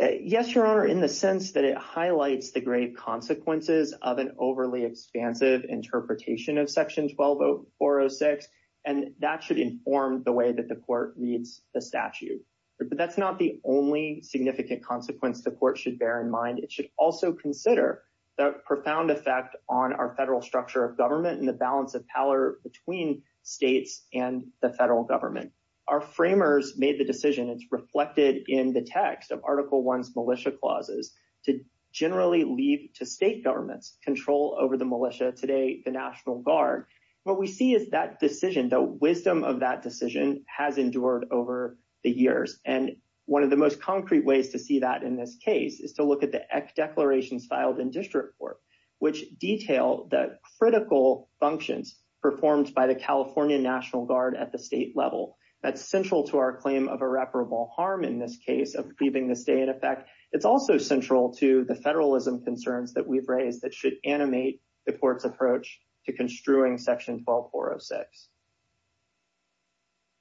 yes your honor in the sense that it highlights the great consequences of an overly expansive interpretation of section 120406 and that should inform the way that the court reads the statute but that's not the only significant consequence the court should bear in mind it should also consider the profound effect on our federal structure of government and the balance of power between states and the federal government our framers made the decision it's reflected in the text of article 1's militia clauses to generally leave to state governments control over the militia today the national guard what we see is that decision the wisdom of that decision has endured over the years and one of the most concrete ways to see that in this case is to look at the declarations filed in district court which detail the critical functions performed by the california national guard at the state level that's central to our claim of irreparable harm in this case of leaving the state in effect it's also central to the federalism concerns that we've raised that should animate the court's approach to construing section 12406.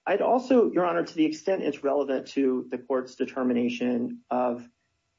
I'd also your honor to the extent it's relevant to the court's determination of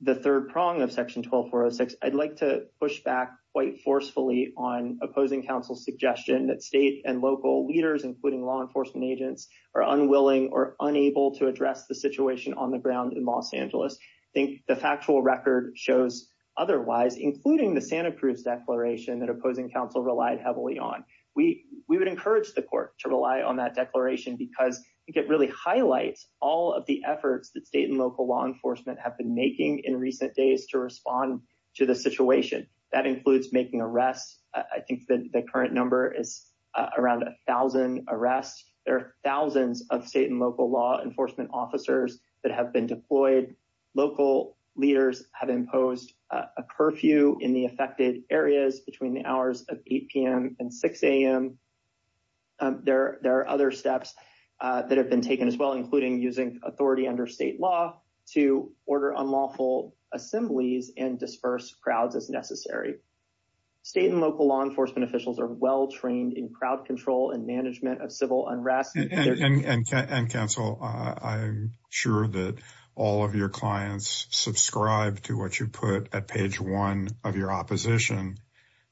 the third prong section 12406 I'd like to push back quite forcefully on opposing counsel's suggestion that state and local leaders including law enforcement agents are unwilling or unable to address the situation on the ground in Los Angeles I think the factual record shows otherwise including the Santa Cruz declaration that opposing counsel relied heavily on we we would encourage the court to rely on that declaration because I think it really highlights all of the efforts that state and local law enforcement have been making in recent days to respond to the situation that includes making arrests I think the current number is around a thousand arrests there are thousands of state and local law enforcement officers that have been deployed local leaders have imposed a curfew in the affected areas between the hours of 8 p.m. and 6 a.m. there there are other steps that have been taken as well including using authority under state law to order unlawful assemblies and disperse crowds as necessary state and local law enforcement officials are well trained in crowd control and management of civil unrest and counsel I'm sure that all of your clients subscribe to what you put at page one of your opposition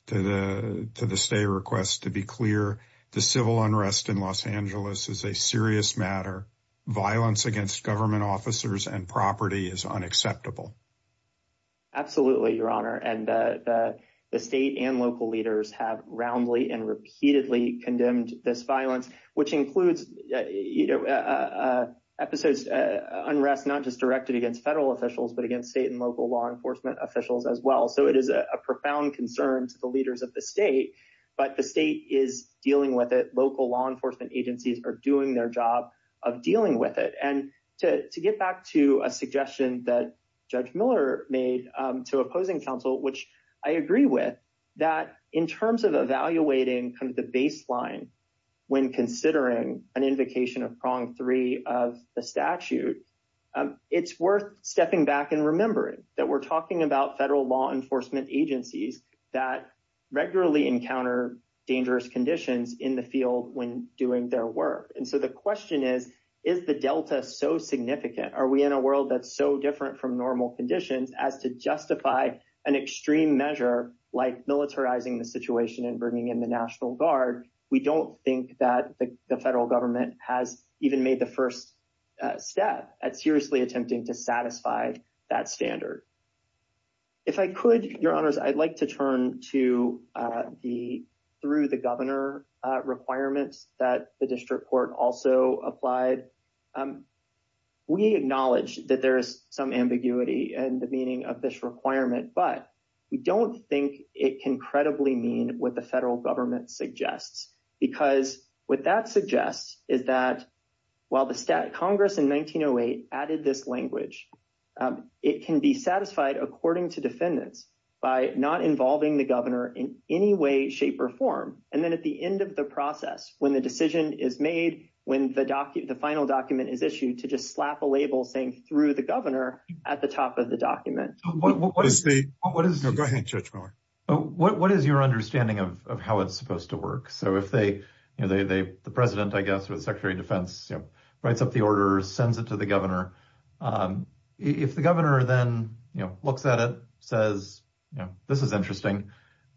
to the to the civil unrest in Los Angeles is a serious matter violence against government officers and property is unacceptable absolutely your honor and the the state and local leaders have roundly and repeatedly condemned this violence which includes you know episodes unrest not just directed against federal officials but against state and local law enforcement officials as well so it is a profound concern to the leaders of the state but the state is dealing with it local law enforcement agencies are doing their job of dealing with it and to to get back to a suggestion that judge miller made to opposing counsel which I agree with that in terms of evaluating kind of the baseline when considering an invocation of prong three of the statute it's worth stepping back and that we're talking about federal law enforcement agencies that regularly encounter dangerous conditions in the field when doing their work and so the question is is the delta so significant are we in a world that's so different from normal conditions as to justify an extreme measure like militarizing the situation and bringing in the national guard we don't think that the federal government has even made the first step at seriously attempting to satisfy that standard if I could your honors I'd like to turn to the through the governor requirements that the district court also applied we acknowledge that there is some ambiguity and the meaning of this requirement but we don't think it can credibly mean what the federal government suggests because what that suggests is that while the stat congress in 1908 added this language it can be satisfied according to defendants by not involving the governor in any way shape or form and then at the end of the process when the decision is made when the document the final document is issued to just slap a label saying through the governor at the top of the document what is the what is no the president I guess with the secretary of defense you know writes up the order sends it to the governor if the governor then you know looks at it says you know this is interesting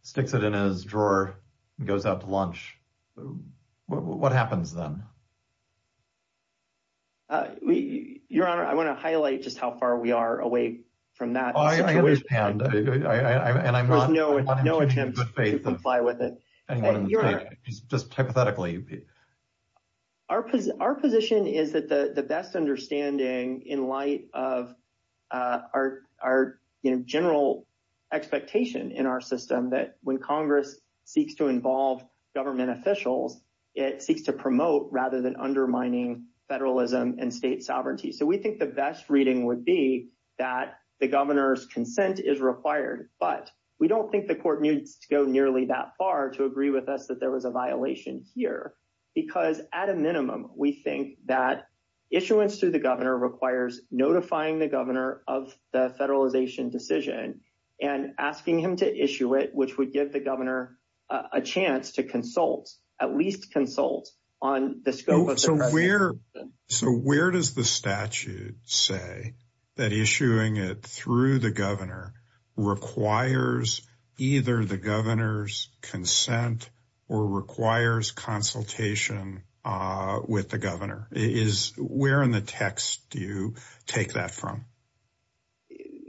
sticks it in his drawer and goes out to lunch what happens then your honor I want to highlight just how far we are away from that I wish and I and I'm there's no no attempt to comply with it just hypothetically our position our position is that the the best understanding in light of uh our our you know general expectation in our system that when congress seeks to involve government officials it seeks to promote rather than undermining federalism and state sovereignty so we think best reading would be that the governor's consent is required but we don't think the court needs to go nearly that far to agree with us that there was a violation here because at a minimum we think that issuance to the governor requires notifying the governor of the federalization decision and asking him to issue it which would give the governor a chance to consult at least consult on the scope so where so where does the statute say that issuing it through the governor requires either the governor's consent or requires consultation uh with the governor is where in the text do you take that from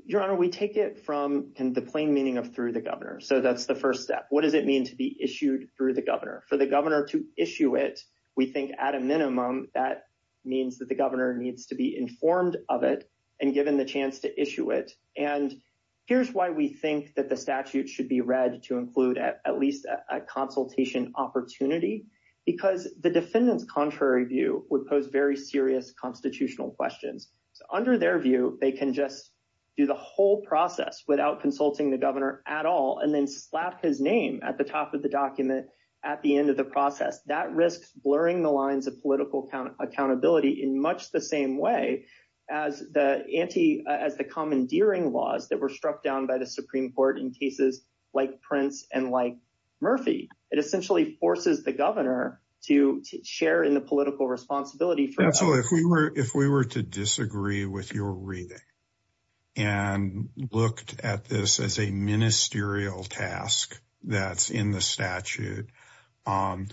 your honor we take it from the plain meaning of through the governor so that's the first step what does it mean to be issued through the governor for the governor to issue it we think at a minimum that means that the governor needs to be informed of it and given the chance to issue it and here's why we think that the statute should be read to include at least a consultation opportunity because the defendant's contrary view would pose very serious constitutional questions so under their view they can just do the whole process without consulting the governor at all and then slap his name at the top of the document at the process that risks blurring the lines of political accountability in much the same way as the anti as the commandeering laws that were struck down by the supreme court in cases like prince and like murphy it essentially forces the governor to share in the political responsibility for absolutely if we were if we were to disagree with your reading and looked at this as a ministerial task that's in the statute um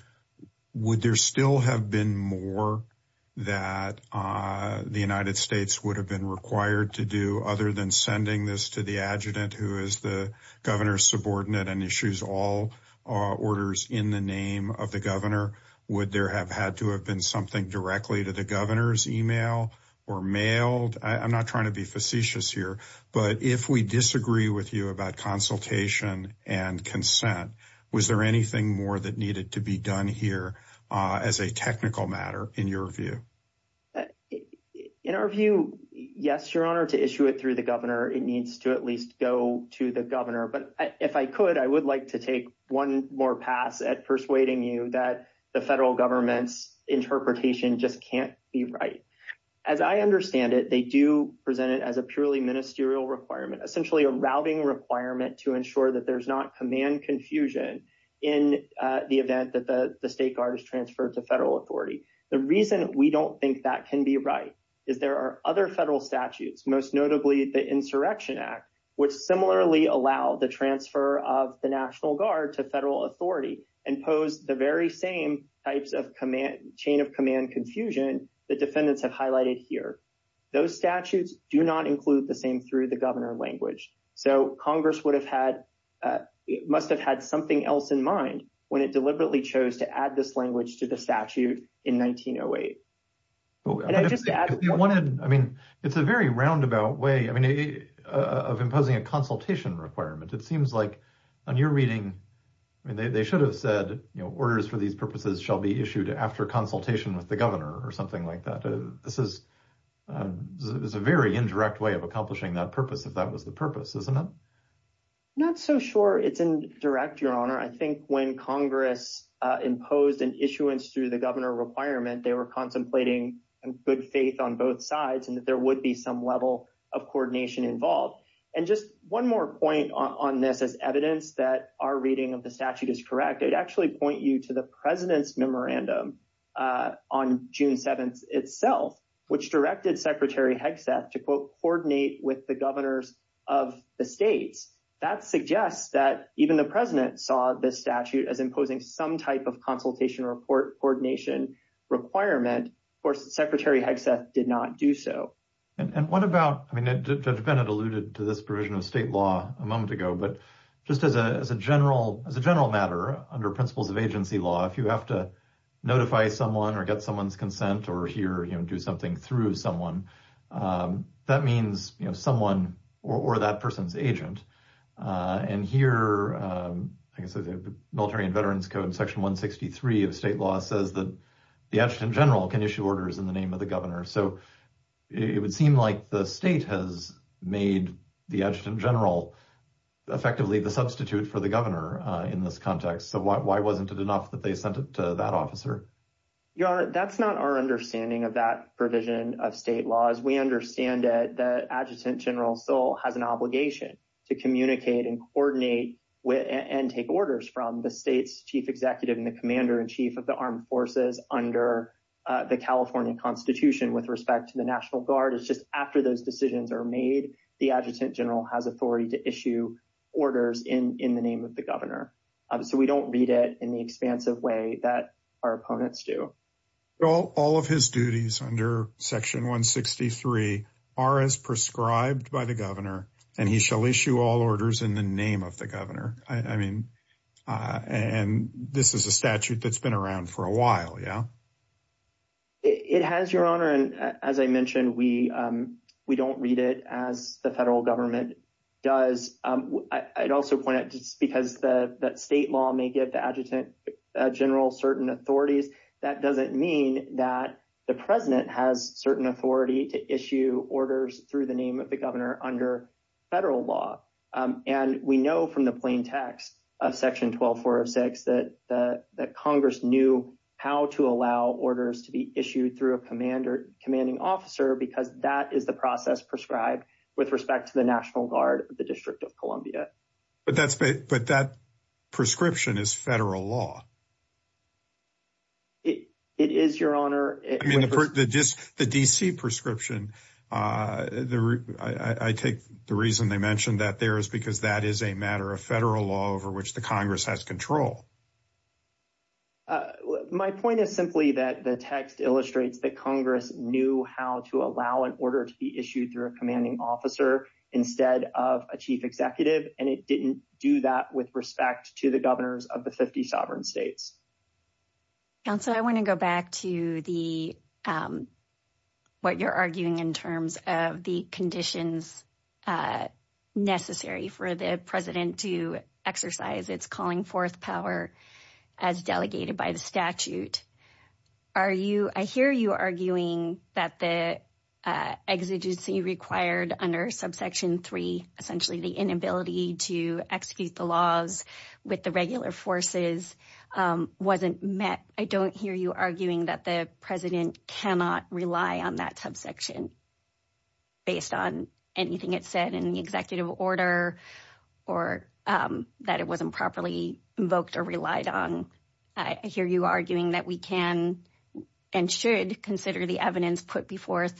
would there still have been more that uh the united states would have been required to do other than sending this to the adjutant who is the governor's subordinate and issues all orders in the name of the governor would there have had to have been something directly to the governor's email or mailed i'm not trying to be facetious here but if we disagree with you about consultation and consent was there anything more that needed to be done here as a technical matter in your view in our view yes your honor to issue it through the governor it needs to at least go to the governor but if i could i would like to take one more pass at persuading you that the federal government's interpretation just can't be right as i understand it they do present it as a purely ministerial requirement essentially a routing requirement to ensure that there's not command confusion in the event that the the state guard is transferred to federal authority the reason we don't think that can be right is there are other federal statutes most notably the insurrection act which similarly allow the transfer of the national guard to federal authority and pose the very same types of command chain of command confusion that defendants have highlighted here those statutes do not include the same through the governor language so congress would have had uh it must have had something else in mind when it deliberately chose to add this language to the statute in 1908 and i just wanted i mean it's a very roundabout way i mean of imposing a consultation requirement it seems like on your reading i mean they should have said you know orders for these purposes shall be issued after consultation with the governor or something like that this is a very indirect way of accomplishing that purpose if that was the purpose isn't it not so sure it's indirect your honor i think when congress uh imposed an issuance through the governor requirement they were contemplating good faith on both sides and that there would be some level of coordination involved and just one more point on this as evidence that our reading of the statute is correct i'd actually point you to the president's memorandum on june 7th itself which directed secretary hegseth to quote coordinate with the governors of the states that suggests that even the president saw this statute as imposing some type of consultation report coordination requirement of course secretary hegseth did not do so and what about i mean judge bennett alluded to this provision of state law a moment ago but just as a as a matter under principles of agency law if you have to notify someone or get someone's consent or hear him do something through someone that means you know someone or that person's agent and here i guess the military and veterans code section 163 of state law says that the adjutant general can issue orders in the name of the governor so it would seem like the state has made the adjutant general effectively the substitute for the governor in this context so why wasn't it enough that they sent it to that officer your honor that's not our understanding of that provision of state laws we understand that the adjutant general soul has an obligation to communicate and coordinate with and take orders from the state's chief executive and the commander-in-chief of the armed forces under the california constitution with respect to the national guard it's just after those decisions are made the adjutant general has authority to issue orders in in the name of the governor so we don't read it in the expansive way that our opponents do well all of his duties under section 163 are as prescribed by the governor and he shall issue all orders in the name of the governor i mean uh and this is a statute that's around for a while yeah it has your honor and as i mentioned we um we don't read it as the federal government does um i'd also point out just because the that state law may give the adjutant general certain authorities that doesn't mean that the president has certain authority to issue orders through the name of the governor under federal law um and we know from the plain text of section 12406 that the that congress knew how to allow orders to be issued through a commander commanding officer because that is the process prescribed with respect to the national guard of the district of columbia but that's but that prescription is federal law it is your honor i mean the just the dc prescription uh the i i take the reason mentioned that there is because that is a matter of federal law over which the congress has control my point is simply that the text illustrates that congress knew how to allow an order to be issued through a commanding officer instead of a chief executive and it didn't do that with respect to the governors of the 50 sovereign states council i want to go back to the um what you're in terms of the conditions uh necessary for the president to exercise its calling forth power as delegated by the statute are you i hear you arguing that the exigency required under subsection three essentially the inability to execute the laws with the regular forces um wasn't met i hear you arguing that the president cannot rely on that subsection based on anything it said in the executive order or um that it wasn't properly invoked or relied on i hear you arguing that we can and should consider the evidence put before us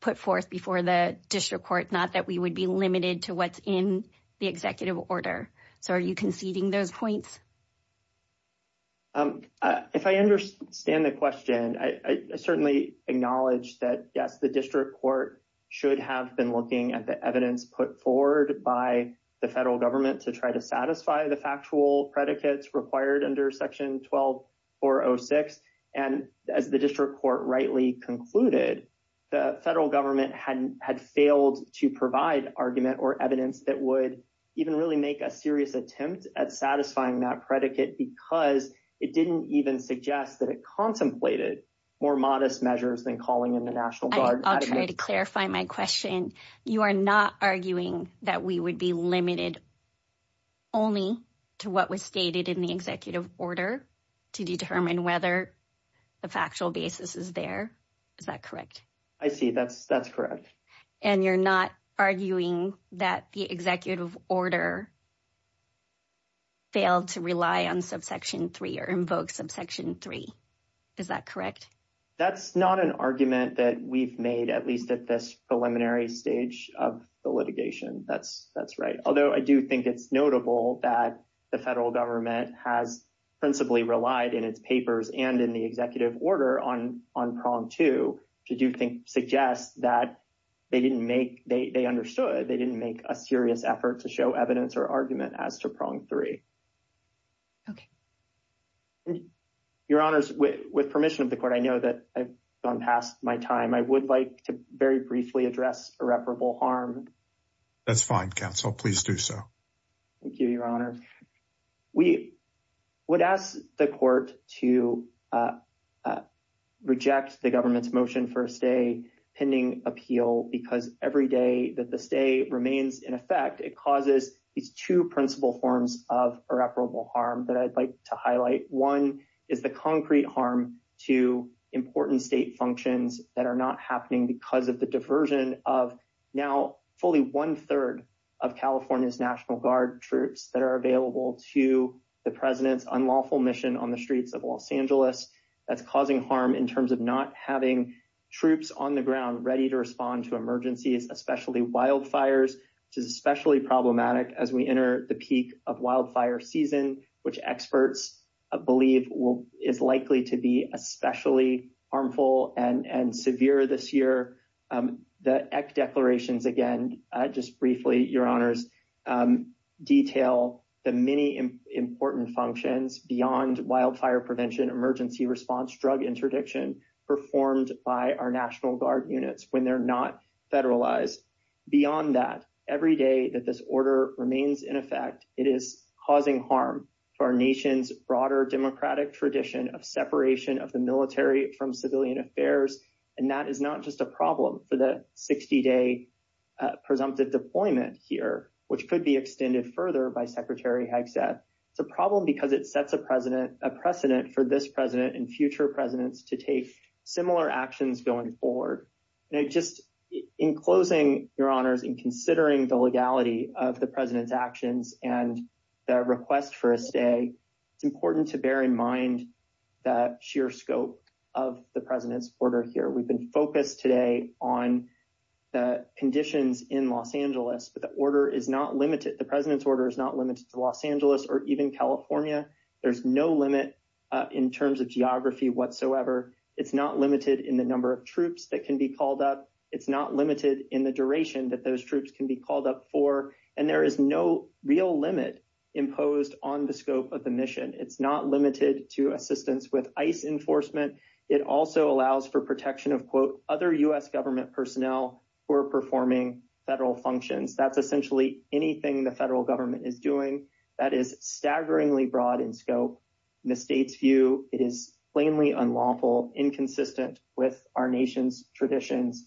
put forth before the district court not that we would be limited to what's in the executive order so are you conceding those points um if i understand the question i certainly acknowledge that yes the district court should have been looking at the evidence put forward by the federal government to try to satisfy the factual predicates required under section 12406 and as the district court rightly concluded the federal government hadn't had failed to provide argument or evidence that would even really make a serious attempt at satisfying that predicate because it didn't even suggest that it contemplated more modest measures than calling in the national guard i'll try to clarify my question you are not arguing that we would be limited only to what was stated in the executive order to determine whether the factual basis is there is that correct i see that's that's correct and you're not arguing that the executive order failed to rely on subsection 3 or invoke subsection 3 is that correct that's not an argument that we've made at least at this preliminary stage of the litigation that's that's right although i do think it's notable that the federal government has principally relied in its papers and in the executive order on on prong two to do think suggests that they didn't make they understood they didn't make a serious effort to show evidence or argument as to prong three okay your honors with permission of the court i know that i've gone past my time i would like to very briefly address irreparable harm that's fine counsel please do so thank you your honor we would ask the court to uh uh reject the government's motion for a stay pending appeal because every day that the stay remains in effect it causes these two principal forms of irreparable harm that i'd like to highlight one is the concrete harm to important state functions that are not happening because of the diversion of now fully one-third of california's national guard troops that are available to the president's unlawful mission on the streets of los angeles that's causing harm in terms of not having troops on the ground ready to respond to emergencies especially wildfires which is especially problematic as we enter the peak of wildfire season which experts believe will is likely to be especially harmful and and severe this year um the ec declarations again just briefly your honors detail the many important functions beyond wildfire prevention emergency response drug interdiction performed by our national guard units when they're not federalized beyond that every day that this order remains in effect it is causing harm to our nation's broader democratic tradition of separation of the military from civilian affairs and that is not just a problem for the 60-day presumptive deployment here which could be extended further by secretary hegseth it's a problem because it sets a president a precedent for this president and future presidents to take similar actions going forward and just in closing your honors in considering the legality of the president's actions and the request for a stay it's important to bear in mind that sheer scope of the president's order here we've been focused today on the conditions in los angeles but the order is not limited the president's order is not limited to los angeles or even california there's no limit uh in terms of geography whatsoever it's not limited in the number of troops that can be called up it's not limited in the duration that those troops can be called up for and there is no real limit imposed on the scope of the mission it's not limited to assistance with ice enforcement it also allows for protection of quote other u.s government personnel who are performing federal functions that's essentially anything the federal government is doing that is staggeringly broad in scope in the state's view it is plainly unlawful inconsistent with our nation's traditions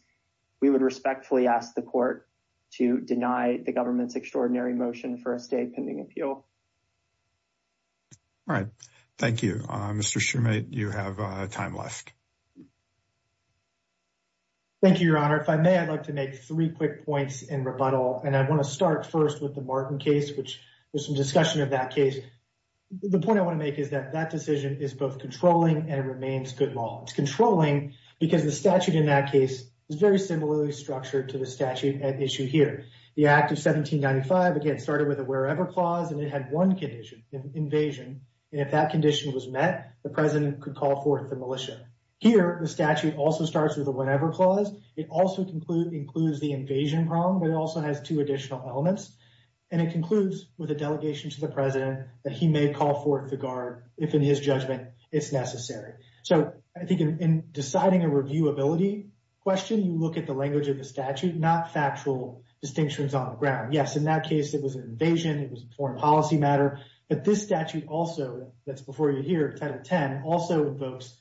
we would respectfully ask the court to deny the extraordinary motion for a state pending appeal all right thank you uh mr shumate you have a time left thank you your honor if i may i'd like to make three quick points in rebuttal and i want to start first with the martin case which there's some discussion of that case the point i want to make is that that decision is both controlling and it remains good law it's controlling because the statute in that case is very similarly structured to the statute at issue here the act of 1795 again started with a wherever clause and it had one condition invasion and if that condition was met the president could call forth the militia here the statute also starts with a whenever clause it also conclude includes the invasion problem but it also has two additional elements and it concludes with a delegation to the president that he may call forth the guard if in his judgment it's necessary so i think in deciding a reviewability question you look at the language of the statute not factual distinctions on the ground yes in that case it was an invasion it was a foreign policy matter but this statute also that's before you hear title 10 also invokes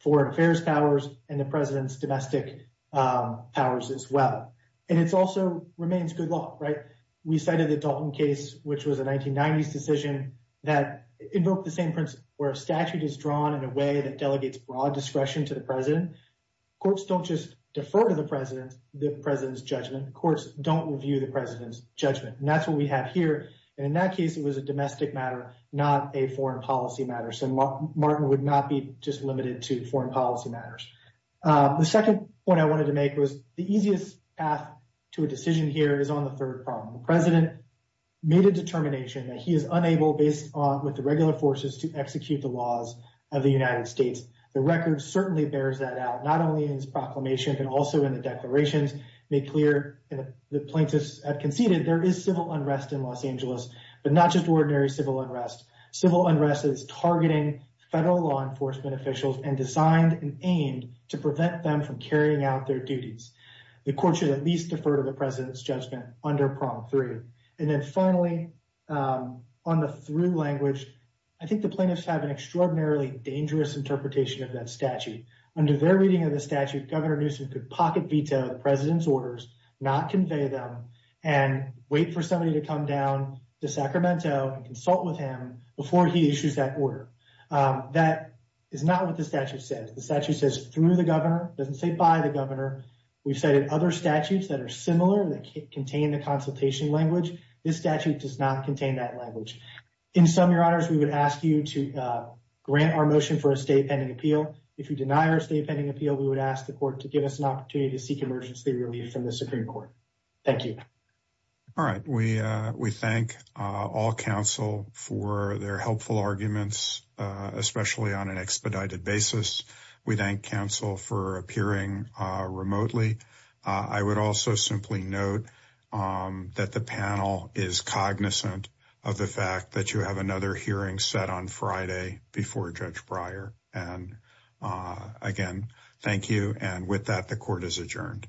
foreign affairs powers and the president's domestic um powers as well and it's also remains good law right we cited the dalton case which was a 1990s decision that invoked the where a statute is drawn in a way that delegates broad discretion to the president courts don't just defer to the president the president's judgment courts don't review the president's judgment and that's what we have here and in that case it was a domestic matter not a foreign policy matter so martin would not be just limited to foreign policy matters the second point i wanted to make was the easiest path to a decision here is on the third problem president made a determination that he is unable based on with the regular forces to execute the laws of the united states the record certainly bears that out not only in his proclamation but also in the declarations make clear the plaintiffs have conceded there is civil unrest in los angeles but not just ordinary civil unrest civil unrest is targeting federal law enforcement officials and designed and aimed to prevent them from carrying out their duties the court should at the president's judgment under prompt three and then finally on the through language i think the plaintiffs have an extraordinarily dangerous interpretation of that statute under their reading of the statute governor newsom could pocket veto the president's orders not convey them and wait for somebody to come down to sacramento and consult with him before he issues that order that is not what the statute says the statute says through the governor doesn't say by the governor we've cited other statutes that are similar that contain the consultation language this statute does not contain that language in some your honors we would ask you to uh grant our motion for a state pending appeal if you deny our state pending appeal we would ask the court to give us an opportunity to seek emergency relief from the supreme court thank you all right we uh we thank uh all counsel for their helpful arguments uh especially on an expedited basis we thank counsel for appearing uh remotely i would also simply note um that the panel is cognizant of the fact that you have another hearing set on friday before judge briar and uh again thank you and with that the court is adjourned